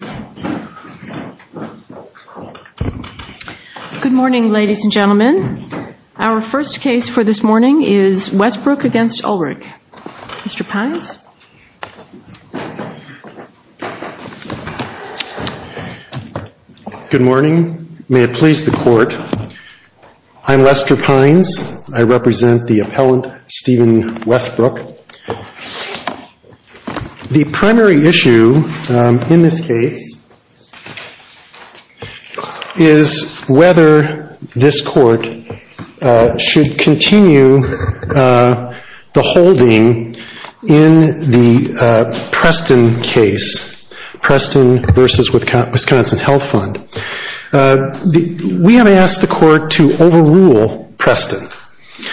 Good morning ladies and gentlemen. Our first case for this morning is Wesbrook against Ulrich. Mr. Pines. Good morning. May it please the court. I'm Lester Pines. I represent the appellant Stephen Wesbrook. The primary issue in this case is whether this court should continue the holding in the Preston case. Preston versus Wisconsin Health Fund. We have asked the court to overrule Preston.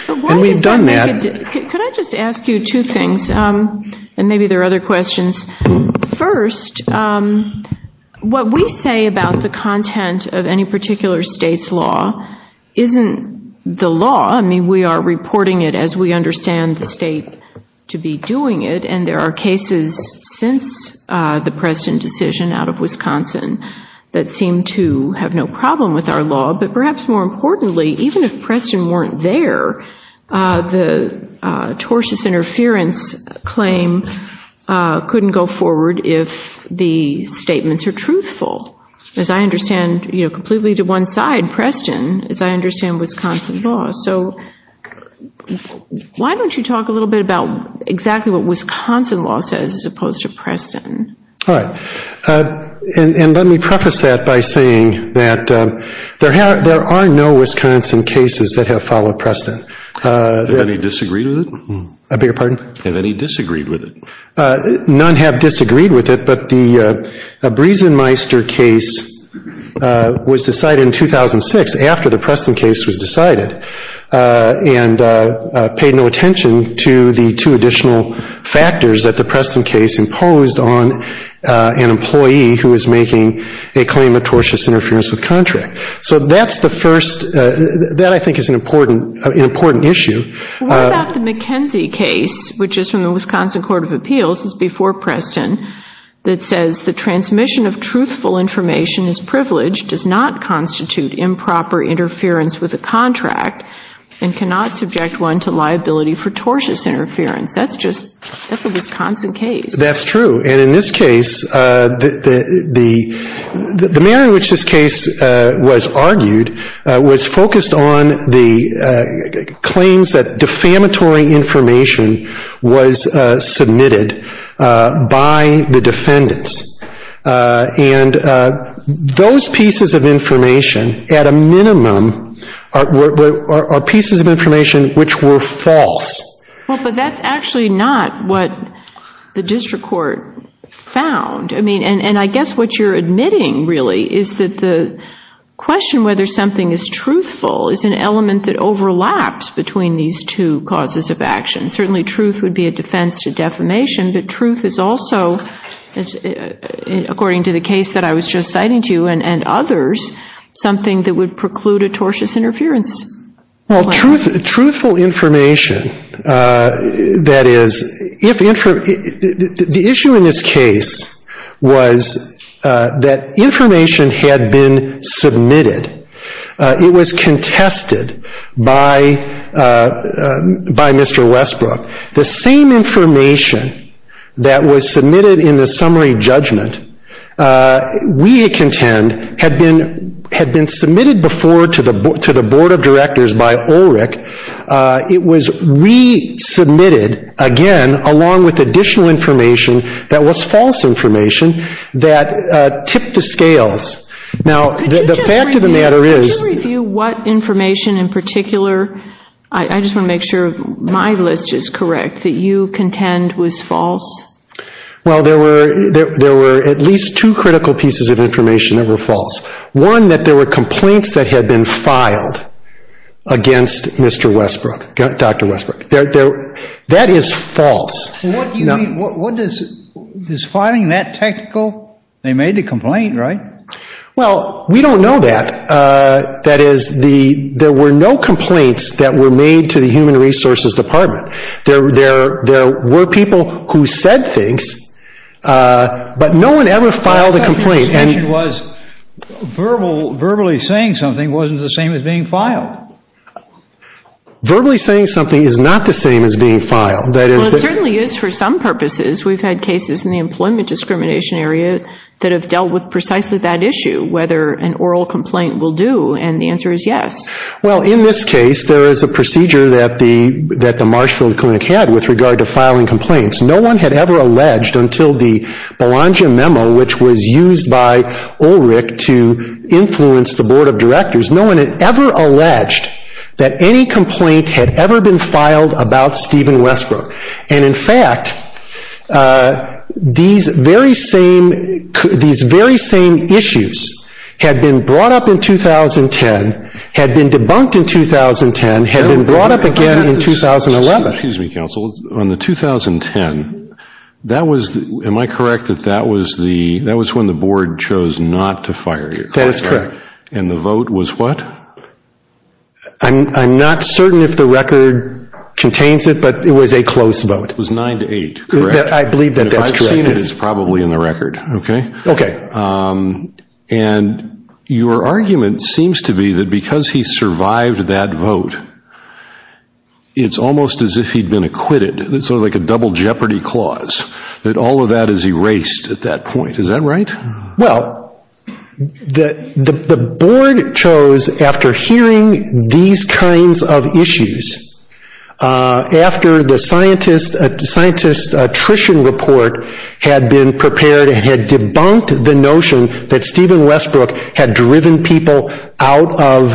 And we've done that. Could I just ask you two things and maybe there are other questions. First, what we say about the content of any particular state's law isn't the law. I mean we are reporting it as we understand the state to be doing it. And there are cases since the Preston decision out of Wisconsin that seem to have no problem with our law. But perhaps more importantly, even if Preston weren't there, the tortious interference claim couldn't go forward if the statements are truthful. As I understand, completely to one side, Preston, as I understand Wisconsin law. So why don't you talk a little bit about exactly what Wisconsin law says as opposed to Preston. All right. And let me preface that by saying that there are no Wisconsin cases that have followed Preston. Have any disagreed with it? I beg your pardon? Have any disagreed with it? None have disagreed with it, but the Briesenmeister case was decided in 2006 after the Preston case was decided. And paid no attention to the two additional factors that the Preston case imposed on an employee who is making a claim of tortious interference with contract. So that's the first, that I think is an important issue. What about the McKenzie case, which is from the Wisconsin Court of Appeals, it's before Preston, that says the transmission of truthful information is privileged, does not constitute improper interference with a contract, and cannot subject one to liability for tortious interference. That's just, that's a Wisconsin case. That's true. And in this case, the manner in which this case was argued was focused on the claims that defamatory information was submitted by the defendants. And those pieces of information, at a minimum, are pieces of information which were false. Well, but that's actually not what the district court found. I mean, and I guess what you're admitting, really, is that the question whether something is truthful is an element that overlaps between these two causes of action. Certainly truth would be a defense to defamation, but truth is also, according to the case that I was just citing to you, and others, something that would preclude a tortious interference. Well, truthful information, that is, the issue in this case was that information had been submitted. It was contested by Mr. Westbrook. The same information that was submitted in the summary judgment, we contend, had been submitted before to the Board of Directors by Ulrich. It was resubmitted, again, along with additional information that was false information that tipped the scales. Could you review what information in particular, I just want to make sure my list is correct, that you contend was false? Well, there were at least two critical pieces of information that were false. One, that there were complaints that had been filed against Mr. Westbrook, Dr. Westbrook. That is false. What do you mean, is filing that technical? They made the complaint, right? Well, we don't know that. That is, there were no complaints that were made to the Human Resources Department. There were people who said things, but no one ever filed a complaint. My understanding was verbally saying something wasn't the same as being filed. Verbally saying something is not the same as being filed. Well, it certainly is for some purposes. We've had cases in the employment discrimination area that have dealt with precisely that issue, whether an oral complaint will do, and the answer is yes. Well, in this case, there is a procedure that the Marshfield Clinic had with regard to filing complaints. No one had ever alleged until the Belongia memo, which was used by Ulrich to influence the Board of Directors, no one had ever alleged that any complaint had ever been filed about Stephen Westbrook. And, in fact, these very same issues had been brought up in 2010, had been debunked in 2010, had been brought up again in 2011. Excuse me, counsel. On the 2010, that was, am I correct that that was when the Board chose not to fire you? That is correct. And the vote was what? I'm not certain if the record contains it, but it was a close vote. It was nine to eight, correct? I believe that that's correct. And if I've seen it, it's probably in the record, okay? Okay. And your argument seems to be that because he survived that vote, it's almost as if he'd been acquitted. It's sort of like a double jeopardy clause, that all of that is erased at that point. Is that right? Well, the Board chose after hearing these kinds of issues, after the scientist attrition report had been prepared and had debunked the notion that Stephen Westbrook had driven people out of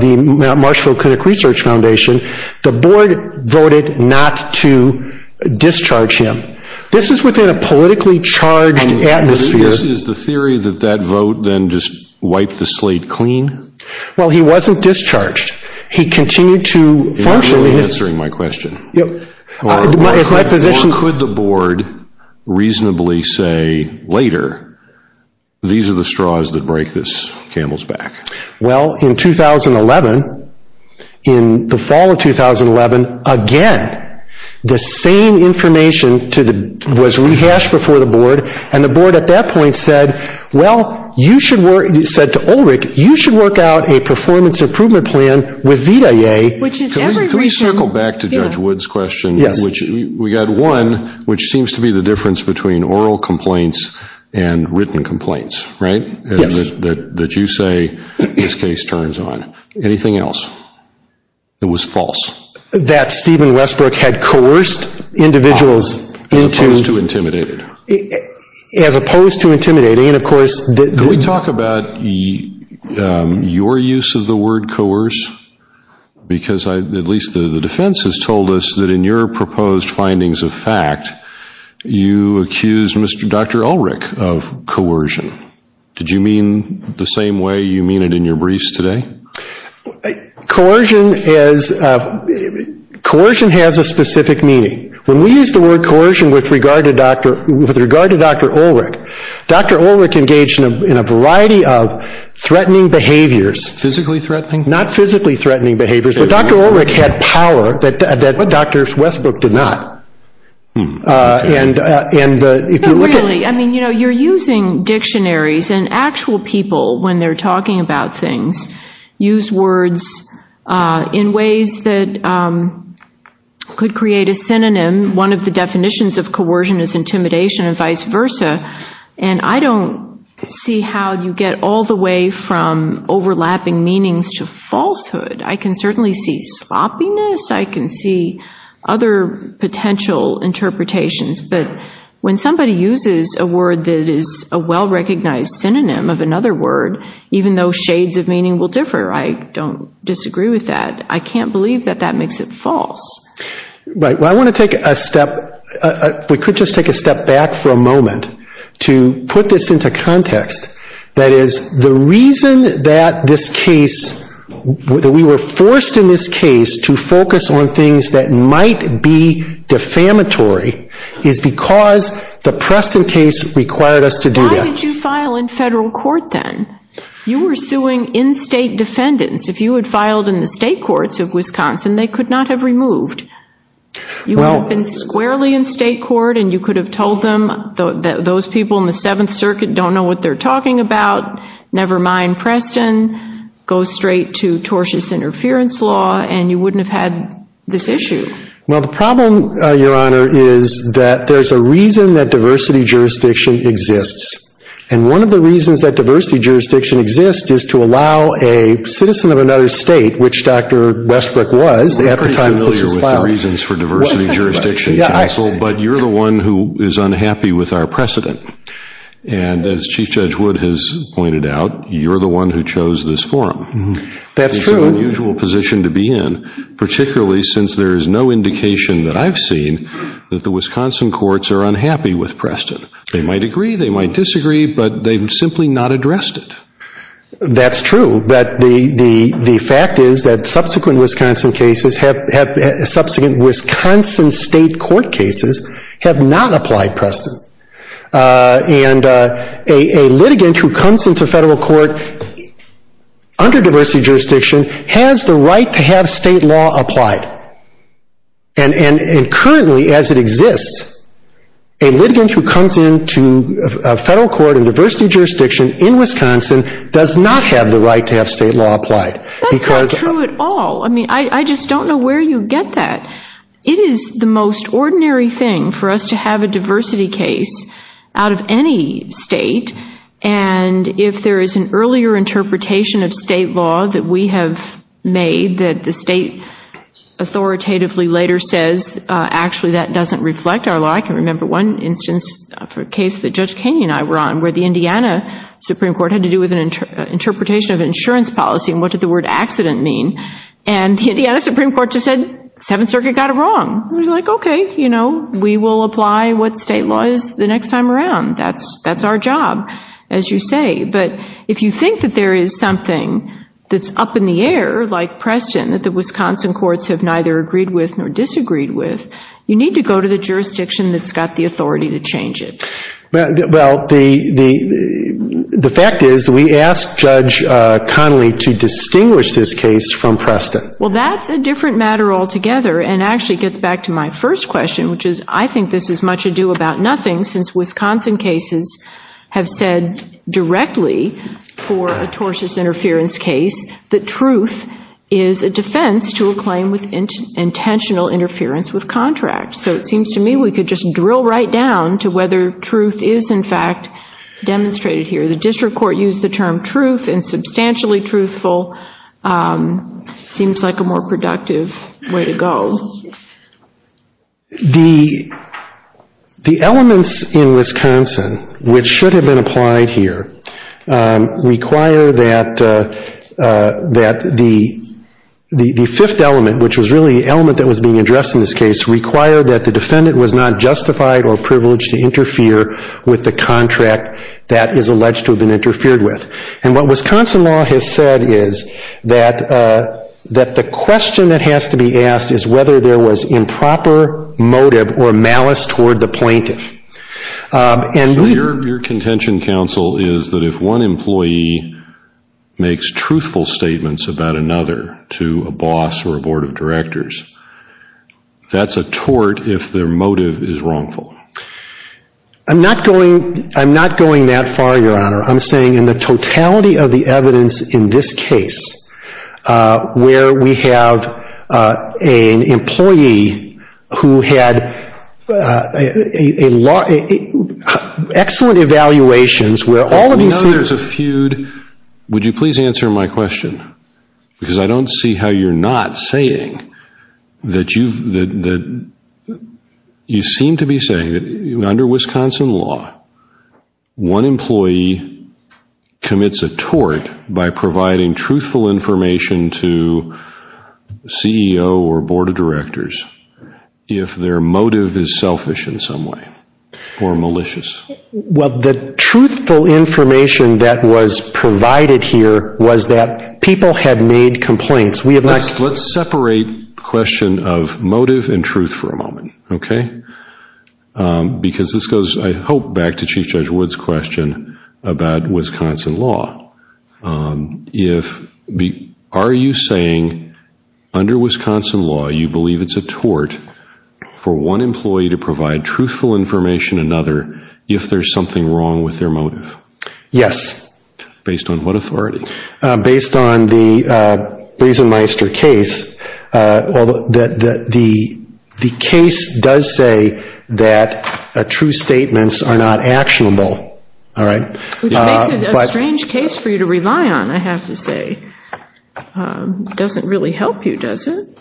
the Marshfield Clinic Research Foundation, the Board voted not to discharge him. This is within a politically charged atmosphere. Is the theory that that vote then just wiped the slate clean? Well, he wasn't discharged. He continued to function. You're not really answering my question. It's my position. What could the Board reasonably say later, these are the straws that break this camel's back? Well, in 2011, in the fall of 2011, again, the same information was rehashed before the Board, and the Board at that point said, well, you should work, said to Ulrich, you should work out a performance improvement plan with VITA-A. Can we circle back to Judge Wood's question? Yes. We got one, which seems to be the difference between oral complaints and written complaints, right? Yes. That you say this case turns on. Anything else that was false? That Stephen Westbrook had coerced individuals into. As opposed to intimidating. As opposed to intimidating, and of course. Can we talk about your use of the word coerce? Because at least the defense has told us that in your proposed findings of fact, you accused Dr. Ulrich of coercion. Did you mean the same way you mean it in your briefs today? Coercion has a specific meaning. When we use the word coercion with regard to Dr. Ulrich, Dr. Ulrich engaged in a variety of threatening behaviors. Physically threatening? Not physically threatening behaviors, but Dr. Ulrich had power that Dr. Westbrook did not. Really? I mean, you know, you're using dictionaries, and actual people, when they're talking about things, use words in ways that could create a synonym. One of the definitions of coercion is intimidation and vice versa. And I don't see how you get all the way from overlapping meanings to falsehood. I can certainly see sloppiness. I can see other potential interpretations. But when somebody uses a word that is a well-recognized synonym of another word, even though shades of meaning will differ, I don't disagree with that. I can't believe that that makes it false. Right. Well, I want to take a step. We could just take a step back for a moment to put this into context. That is, the reason that this case, that we were forced in this case to focus on things that might be defamatory is because the Preston case required us to do that. Why did you file in federal court then? You were suing in-state defendants. If you had filed in the state courts of Wisconsin, they could not have removed. You would have been squarely in state court, and you could have told them that those people in the Seventh Circuit don't know what they're talking about, never mind Preston, go straight to tortious interference law, and you wouldn't have had this issue. Well, the problem, Your Honor, is that there's a reason that diversity jurisdiction exists, and one of the reasons that diversity jurisdiction exists is to allow a citizen of another state, which Dr. Westbrook was at the time this was filed. I'm pretty familiar with the reasons for diversity jurisdiction, Counsel, but you're the one who is unhappy with our precedent, and as Chief Judge Wood has pointed out, you're the one who chose this forum. That's true. It's an unusual position to be in, particularly since there is no indication that I've seen that the Wisconsin courts are unhappy with Preston. They might agree, they might disagree, but they've simply not addressed it. That's true, but the fact is that subsequent Wisconsin state court cases have not applied Preston, and a litigant who comes into federal court under diversity jurisdiction has the right to have state law applied, and currently, as it exists, a litigant who comes into a federal court in diversity jurisdiction in Wisconsin does not have the right to have state law applied. That's not true at all. I mean, I just don't know where you get that. It is the most ordinary thing for us to have a diversity case out of any state, and if there is an earlier interpretation of state law that we have made, that the state authoritatively later says, actually, that doesn't reflect our law. I can remember one instance of a case that Judge Kaney and I were on, where the Indiana Supreme Court had to do with an interpretation of insurance policy, and what did the word accident mean, and the Indiana Supreme Court just said, Seventh Circuit got it wrong. We were like, okay, you know, we will apply what state law is the next time around. That's our job, as you say, but if you think that there is something that's up in the air, like Preston, that the Wisconsin courts have neither agreed with nor disagreed with, you need to go to the jurisdiction that's got the authority to change it. Well, the fact is, we asked Judge Connolly to distinguish this case from Preston. Well, that's a different matter altogether, and actually gets back to my first question, which is, I think this is much ado about nothing, since Wisconsin cases have said directly for a tortious interference case, that truth is a defense to a claim with intentional interference with contract. So it seems to me we could just drill right down to whether truth is, in fact, demonstrated here. The district court used the term truth and substantially truthful. It seems like a more productive way to go. The elements in Wisconsin which should have been applied here require that the fifth element, which was really the element that was being addressed in this case, require that the defendant was not justified or privileged to interfere with the contract that is alleged to have been interfered with. And what Wisconsin law has said is that the question that has to be asked is whether there was improper motive or malice toward the plaintiff. So your contention, counsel, is that if one employee makes truthful statements about another to a boss or a board of directors, that's a tort if their motive is wrongful. I'm not going that far, Your Honor. I'm saying in the totality of the evidence in this case, where we have an employee who had excellent evaluations where all of these things. Now there's a feud. Would you please answer my question? Because I don't see how you're not saying that you seem to be saying that under Wisconsin law, one employee commits a tort by providing truthful information to CEO or board of directors if their motive is selfish in some way or malicious. Well, the truthful information that was provided here was that people had made complaints. Let's separate the question of motive and truth for a moment, okay? Because this goes, I hope, back to Chief Judge Wood's question about Wisconsin law. Are you saying under Wisconsin law you believe it's a tort for one employee to provide truthful information to another if there's something wrong with their motive? Yes. Based on what authority? Based on the Briesenmeister case. The case does say that true statements are not actionable, all right? Which makes it a strange case for you to rely on, I have to say. It doesn't really help you, does it?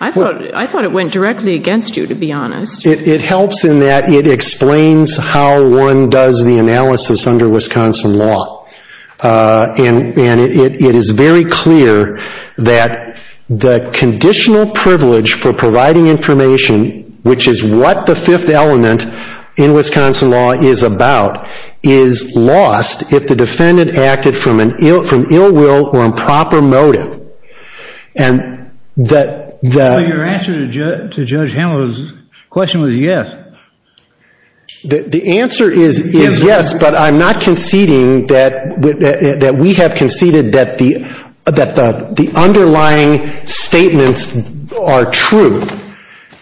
I thought it went directly against you, to be honest. It helps in that it explains how one does the analysis under Wisconsin law. And it is very clear that the conditional privilege for providing information, which is what the fifth element in Wisconsin law is about, is lost if the defendant acted from ill will or improper motive. Your answer to Judge Hamill's question was yes. The answer is yes, but I'm not conceding that we have conceded that the underlying statements are true.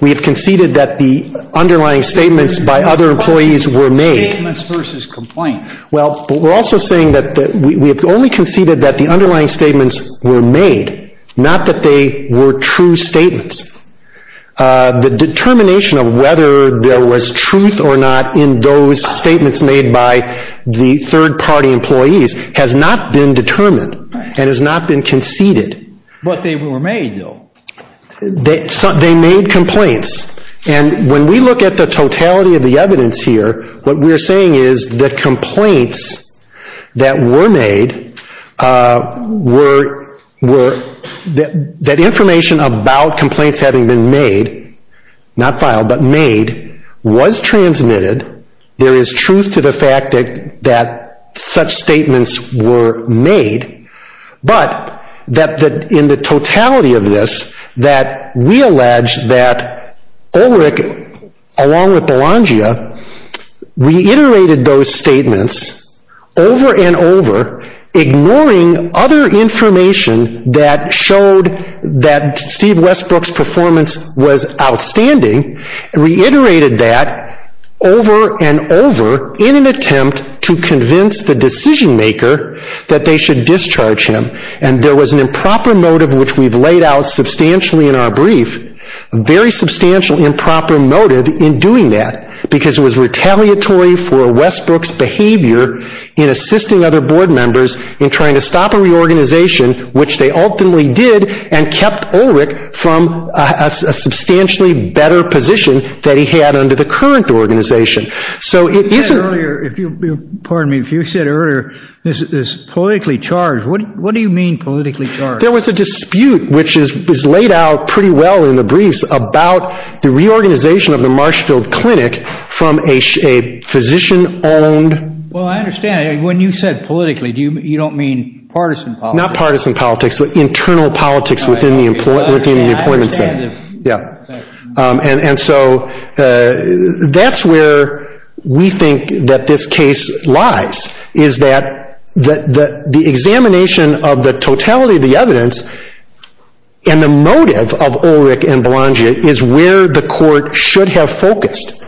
We have conceded that the underlying statements by other employees were made. Statements versus complaints. Well, we're also saying that we have only conceded that the underlying statements were made, not that they were true statements. The determination of whether there was truth or not in those statements made by the third-party employees has not been determined and has not been conceded. But they were made, though. They made complaints. And when we look at the totality of the evidence here, what we're saying is that complaints that were made, that information about complaints having been made, not filed, but made, was transmitted. There is truth to the fact that such statements were made. But in the totality of this, that we allege that Ulrich, along with Belongia, reiterated those statements over and over, ignoring other information that showed that Steve Westbrook's performance was outstanding, reiterated that over and over in an attempt to convince the decision-maker that they should discharge him. And there was an improper motive, which we've laid out substantially in our brief, a very substantial improper motive in doing that, because it was retaliatory for Westbrook's behavior in assisting other board members in trying to stop a reorganization, which they ultimately did and kept Ulrich from a substantially better position that he had under the current organization. So it isn't… You said earlier, if you, pardon me, if you said earlier this is politically charged. What do you mean politically charged? There was a dispute, which is laid out pretty well in the briefs, about the reorganization of the Marshfield Clinic from a physician-owned… Well, I understand. When you said politically, you don't mean partisan politics? Not partisan politics, but internal politics within the employment center. I understand. Yeah. And so that's where we think that this case lies, is that the examination of the totality of the evidence and the motive of Ulrich and Belongia is where the court should have focused.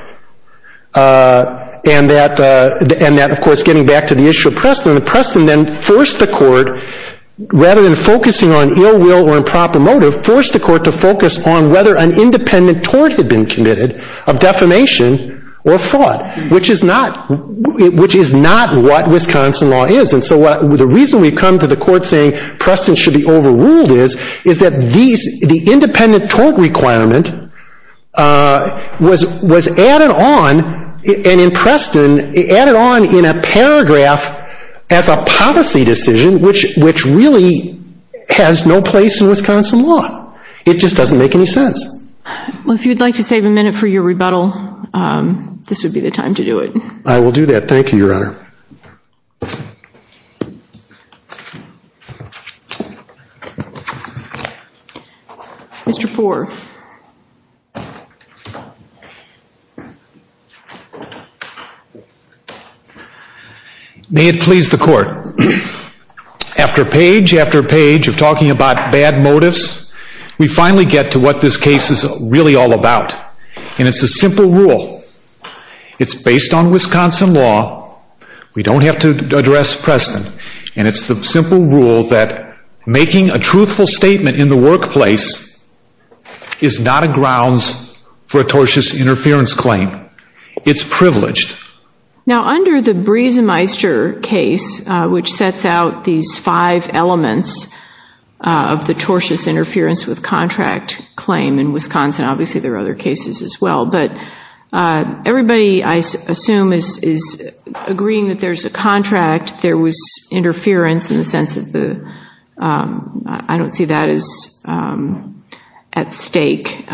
And that, of course, getting back to the issue of Preston, Preston then forced the court, rather than focusing on ill will or improper motive, forced the court to focus on whether an independent tort had been committed of defamation or fraud, which is not what Wisconsin law is. And so the reason we've come to the court saying Preston should be overruled is, is that the independent tort requirement was added on, and in Preston, added on in a paragraph as a policy decision, which really has no place in Wisconsin law. It just doesn't make any sense. Well, if you'd like to save a minute for your rebuttal, this would be the time to do it. I will do that. Thank you, Your Honor. Mr. Poore. May it please the court. After page after page of talking about bad motives, we finally get to what this case is really all about. And it's a simple rule. It's based on Wisconsin law. We don't have to address Preston. And it's the simple rule that making a truthful statement in the workplace is not a grounds for a tortious interference claim. It's privileged. Now, under the Breezemeister case, which sets out these five elements of the tortious interference with contract claim in Wisconsin, obviously there are other cases as well, but everybody, I assume, is agreeing that there's a contract. There was interference in the sense of the, I don't see that as at stake.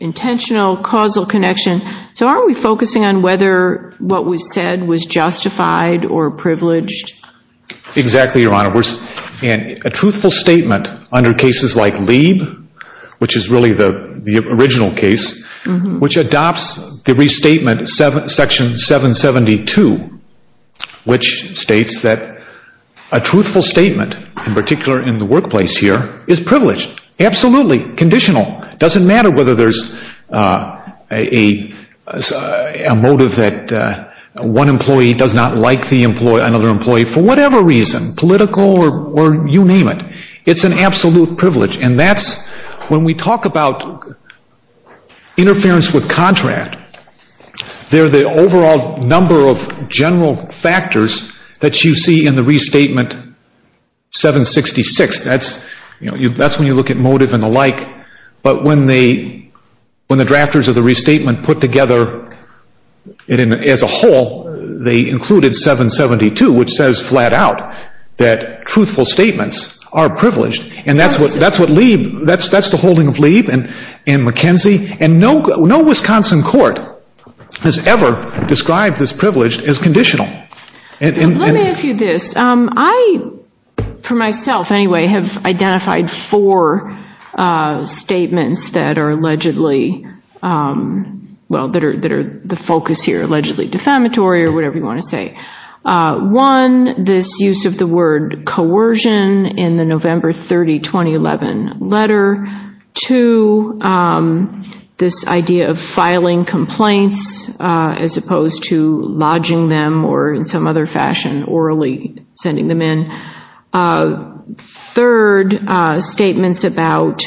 Intentional, causal connection. So aren't we focusing on whether what was said was justified or privileged? Exactly, Your Honor. A truthful statement under cases like Lieb, which is really the original case, which adopts the restatement section 772, which states that a truthful statement, in particular in the workplace here, is privileged. Absolutely. Conditional. Doesn't matter whether there's a motive that one employee does not like another employee for whatever reason, political or you name it. It's an absolute privilege. And that's when we talk about interference with contract, they're the overall number of general factors that you see in the restatement 766. That's when you look at motive and the like. But when the drafters of the restatement put together as a whole, they included 772, which says flat out that truthful statements are privileged. And that's what Lieb, that's the holding of Lieb and McKenzie, and no Wisconsin court has ever described this privilege as conditional. Let me ask you this. I, for myself anyway, have identified four statements that are allegedly, well, that are the focus here, allegedly defamatory or whatever you want to say. One, this use of the word coercion in the November 30, 2011 letter. Two, this idea of filing complaints as opposed to lodging them or in some other fashion orally sending them in. Third, statements about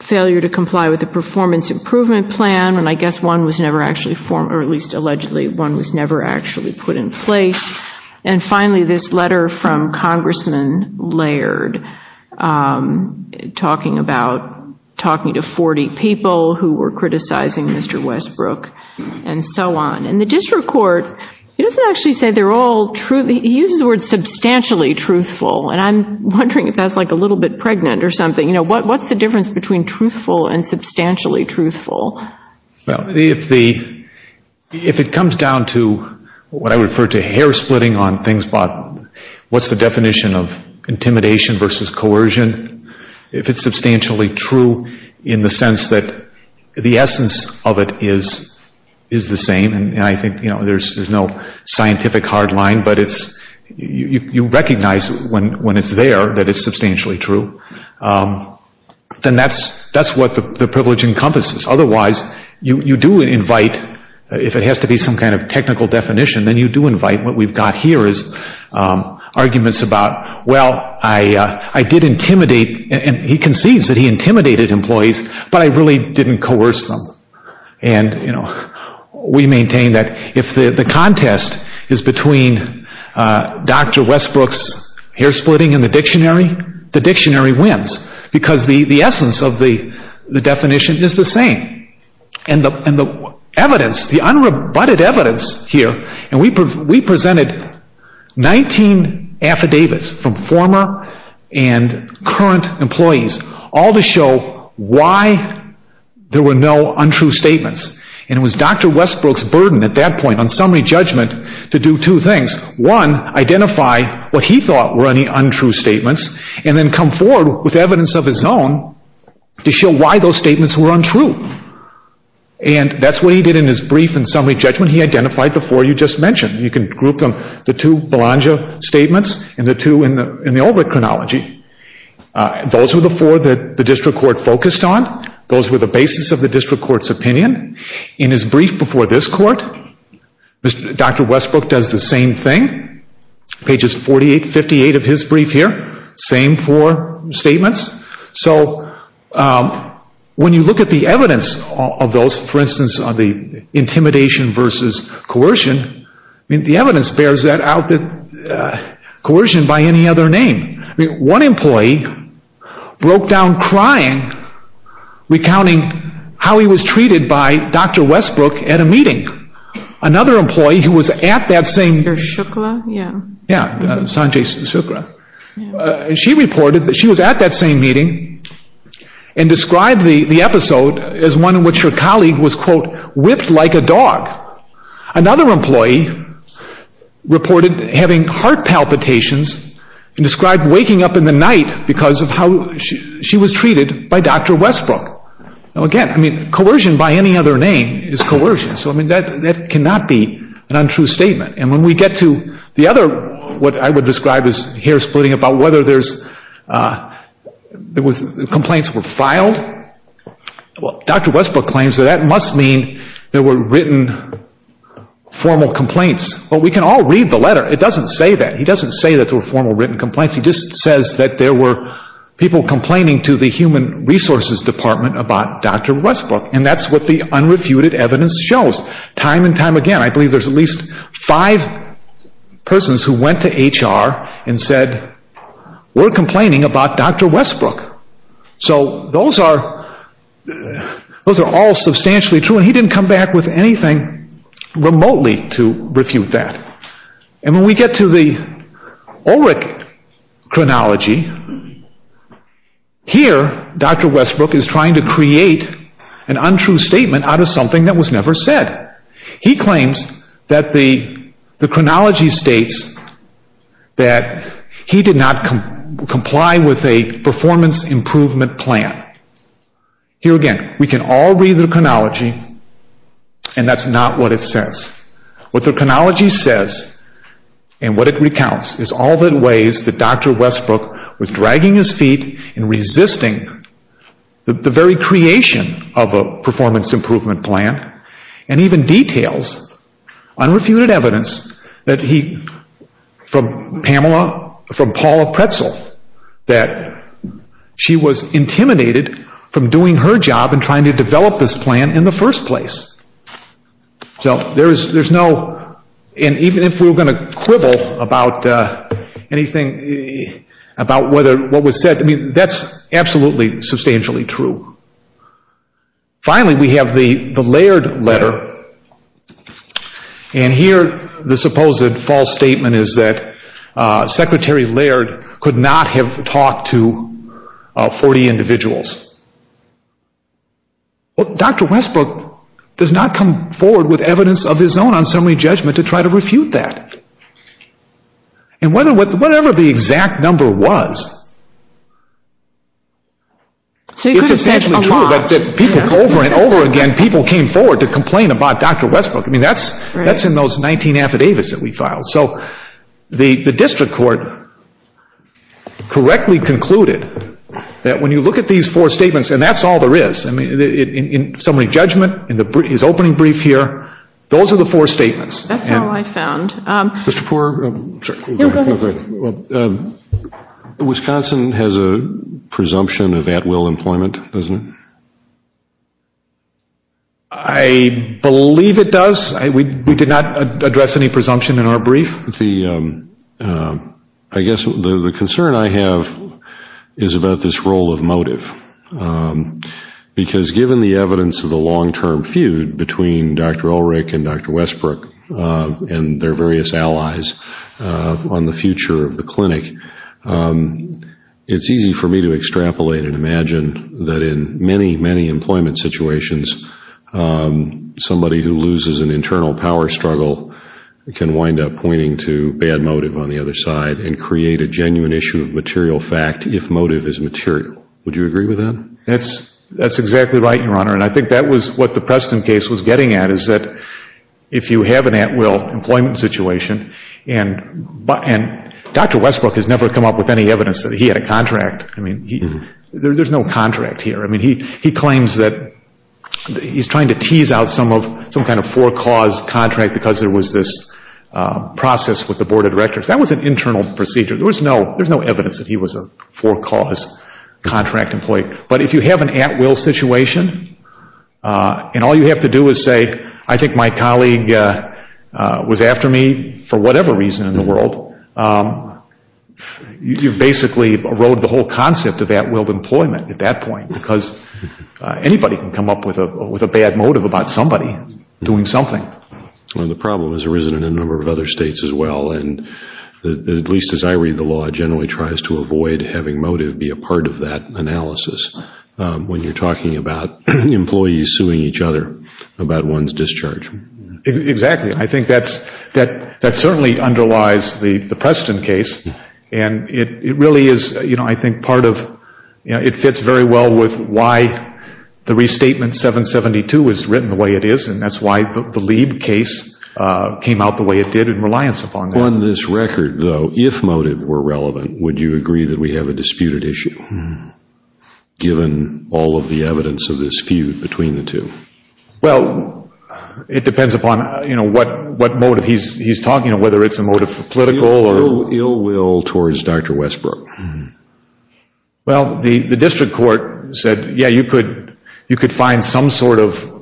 failure to comply with the performance improvement plan, and I guess one was never actually formed, or at least allegedly, one was never actually put in place. And finally, this letter from Congressman Laird talking about talking to 40 people who were criticizing Mr. Westbrook and so on. And the district court, he doesn't actually say they're all true. He uses the word substantially truthful, and I'm wondering if that's like a little bit pregnant or something. What's the difference between truthful and substantially truthful? Well, if it comes down to what I would refer to hair splitting on things, what's the definition of intimidation versus coercion? If it's substantially true in the sense that the essence of it is the same, and I think there's no scientific hard line, but you recognize when it's there that it's substantially true, then that's what the privilege encompasses. Otherwise, you do invite, if it has to be some kind of technical definition, then you do invite what we've got here is arguments about, well, I did intimidate, and he concedes that he intimidated employees, but I really didn't coerce them. We maintain that if the contest is between Dr. Westbrook's hair splitting and the dictionary, the dictionary wins because the essence of the definition is the same. And the evidence, the unrebutted evidence here, and we presented 19 affidavits from former and current employees all to show why there were no untrue statements. And it was Dr. Westbrook's burden at that point on summary judgment to do two things. One, identify what he thought were any untrue statements and then come forward with evidence of his own to show why those statements were untrue. And that's what he did in his brief in summary judgment. He identified the four you just mentioned. You can group them, the two Belongia statements and the two in the Oldbrook chronology. Those were the four that the district court focused on. Those were the basis of the district court's opinion. In his brief before this court, Dr. Westbrook does the same thing. Pages 48, 58 of his brief here, same four statements. So when you look at the evidence of those, for instance, of the intimidation versus coercion, the evidence bears that out that coercion by any other name. One employee broke down crying, recounting how he was treated by Dr. Westbrook at a meeting. Another employee who was at that same... Sanjay Shukla, yeah. Yeah, Sanjay Shukla. She reported that she was at that same meeting and described the episode as one in which her colleague was, quote, whipped like a dog. Another employee reported having heart palpitations and described waking up in the night because of how she was treated by Dr. Westbrook. Now, again, I mean, coercion by any other name is coercion. So, I mean, that cannot be an untrue statement. And when we get to the other, what I would describe as hair-splitting about whether there's... the complaints were filed, well, Dr. Westbrook claims that that must mean there were written formal complaints. Well, we can all read the letter. It doesn't say that. He doesn't say that there were formal written complaints. He just says that there were people complaining to the Human Resources Department about Dr. Westbrook, and that's what the unrefuted evidence shows time and time again. I believe there's at least five persons who went to HR and said, we're complaining about Dr. Westbrook. So those are all substantially true, and he didn't come back with anything remotely to refute that. And when we get to the Ulrich chronology, here Dr. Westbrook is trying to create an untrue statement out of something that was never said. He claims that the chronology states that he did not comply with a performance improvement plan. Here again, we can all read the chronology, and that's not what it says. What the chronology says, and what it recounts, is all the ways that Dr. Westbrook was dragging his feet and resisting the very creation of a performance improvement plan, and even details unrefuted evidence from Paula Pretzel that she was intimidated from doing her job and trying to develop this plan in the first place. So there's no, and even if we were going to quibble about anything, about what was said, that's absolutely substantially true. Finally, we have the Laird letter, and here the supposed false statement is that Secretary Laird could not have talked to 40 individuals. Dr. Westbrook does not come forward with evidence of his own on summary judgment to try to refute that. And whatever the exact number was, it's essentially true that people over and over again, people came forward to complain about Dr. Westbrook. I mean, that's in those 19 affidavits that we filed. So the district court correctly concluded that when you look at these four statements, and that's all there is, in summary judgment, in his opening brief here, those are the four statements. That's all I found. Mr. Poore? Go ahead. Wisconsin has a presumption of at-will employment, doesn't it? I believe it does. We did not address any presumption in our brief. I guess the concern I have is about this role of motive. Because given the evidence of the long-term feud between Dr. Ulrich and Dr. Westbrook and their various allies on the future of the clinic, it's easy for me to extrapolate and imagine that in many, many employment situations, somebody who loses an internal power struggle can wind up pointing to bad motive on the other side and create a genuine issue of material fact if motive is material. Would you agree with that? That's exactly right, Your Honor. And I think that was what the Preston case was getting at, is that if you have an at-will employment situation, and Dr. Westbrook has never come up with any evidence that he had a contract. I mean, there's no contract here. He claims that he's trying to tease out some kind of for-cause contract because there was this process with the Board of Directors. That was an internal procedure. There's no evidence that he was a for-cause contract employee. But if you have an at-will situation, and all you have to do is say, I think my colleague was after me for whatever reason in the world, you basically erode the whole concept of at-will employment at that point because anybody can come up with a bad motive about somebody doing something. Well, the problem is there isn't in a number of other states as well, and at least as I read the law, it generally tries to avoid having motive be a part of that analysis when you're talking about employees suing each other about one's discharge. Exactly. I think that certainly underlies the Preston case, and it really is, I think, part of, it fits very well with why the restatement 772 is written the way it is, and that's why the Lieb case came out the way it did in reliance upon that. On this record, though, if motive were relevant, would you agree that we have a disputed issue given all of the evidence of this feud between the two? Well, it depends upon what motive he's talking about, whether it's a motive for political or ill will towards Dr. Westbrook. Well, the district court said, yeah, you could find some sort of,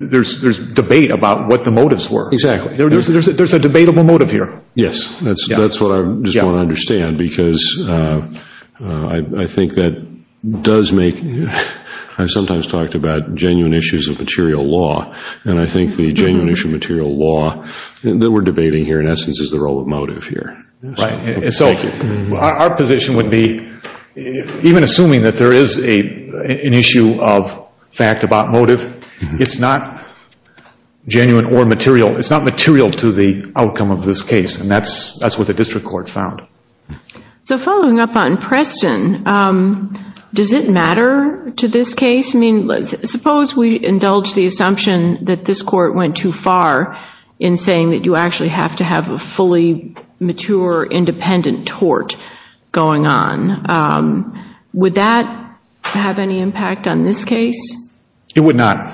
there's debate about what the motives were. Exactly. There's a debatable motive here. Yes, that's what I just want to understand because I think that does make, I sometimes talked about genuine issues of material law, and I think the genuine issue of material law that we're debating here, in essence, is the role of motive here. So our position would be, even assuming that there is an issue of fact about motive, it's not genuine or material, it's not material to the outcome of this case, and that's what the district court found. So following up on Preston, does it matter to this case? I guess, I mean, suppose we indulge the assumption that this court went too far in saying that you actually have to have a fully mature independent tort going on. Would that have any impact on this case? It would not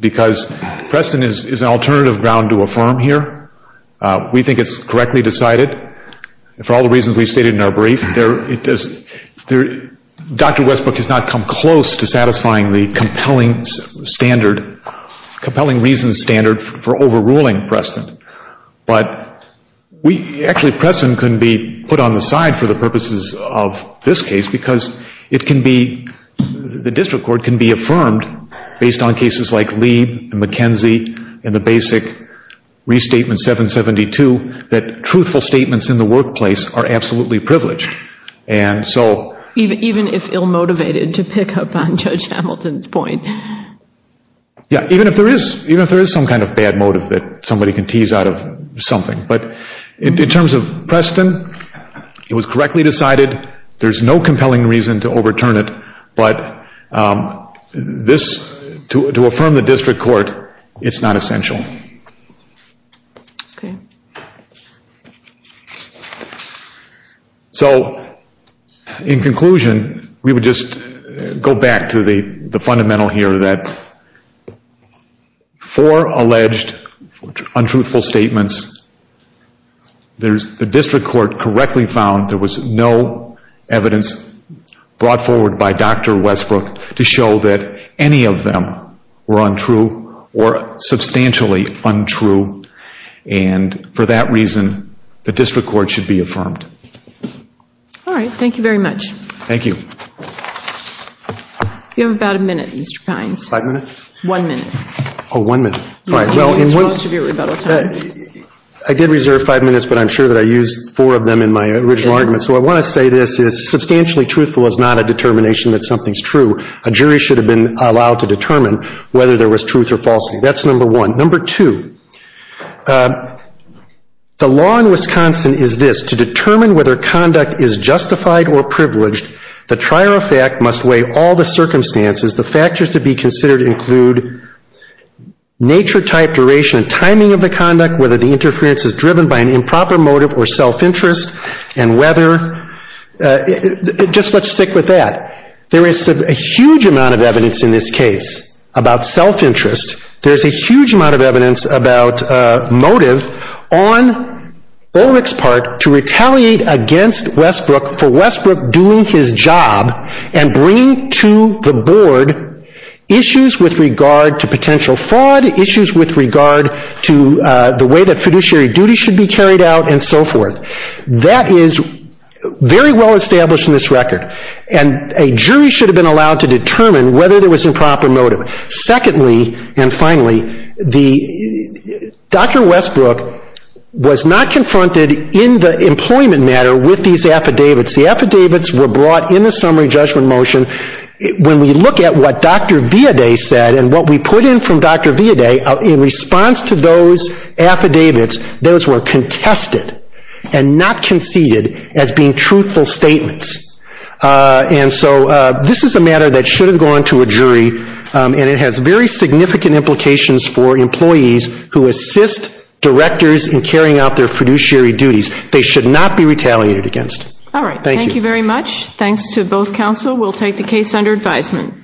because Preston is an alternative ground to affirm here. We think it's correctly decided. For all the reasons we stated in our brief, Dr. Westbrook has not come close to satisfying the compelling standard, compelling reasons standard for overruling Preston, but actually Preston can be put on the side for the purposes of this case because it can be, the district court can be affirmed based on cases like Leib and McKenzie and the basic restatement 772 that truthful statements in the workplace are absolutely privileged. Even if ill-motivated, to pick up on Judge Hamilton's point. Yeah, even if there is some kind of bad motive that somebody can tease out of something, but in terms of Preston, it was correctly decided. There's no compelling reason to overturn it, but to affirm the district court, it's not essential. Okay. So in conclusion, we would just go back to the fundamental here that for alleged untruthful statements, the district court correctly found there was no evidence brought forward by Dr. Westbrook to show that any of them were untrue or substantially untrue. And for that reason, the district court should be affirmed. All right. Thank you very much. Thank you. You have about a minute, Mr. Kines. Five minutes? One minute. Oh, one minute. It's supposed to be a rebuttal time. I did reserve five minutes, but I'm sure that I used four of them in my original argument. So I want to say this is substantially truthful is not a determination that something's true. A jury should have been allowed to determine whether there was truth or falsity. That's number one. Number two, the law in Wisconsin is this, to determine whether conduct is justified or privileged, the trier of fact must weigh all the circumstances. The factors to be considered include nature, type, duration, and timing of the conduct, whether the interference is driven by an improper motive or self-interest, and whether – just let's stick with that. There is a huge amount of evidence in this case about self-interest. There's a huge amount of evidence about motive on Ulrich's part to retaliate against Westbrook for Westbrook doing his job and bringing to the board issues with regard to potential fraud, issues with regard to the way that fiduciary duty should be carried out, and so forth. That is very well established in this record. And a jury should have been allowed to determine whether there was improper motive. Secondly, and finally, the – Dr. Westbrook was not confronted in the employment matter with these affidavits. The affidavits were brought in the summary judgment motion. When we look at what Dr. Viaday said and what we put in from Dr. Viaday, in response to those affidavits, those were contested and not conceded as being truthful statements. And so this is a matter that should have gone to a jury, and it has very significant implications for employees who assist directors in carrying out their fiduciary duties. They should not be retaliated against. All right. Thank you. Thank you very much. Thanks to both counsel. We'll take the case under advisement.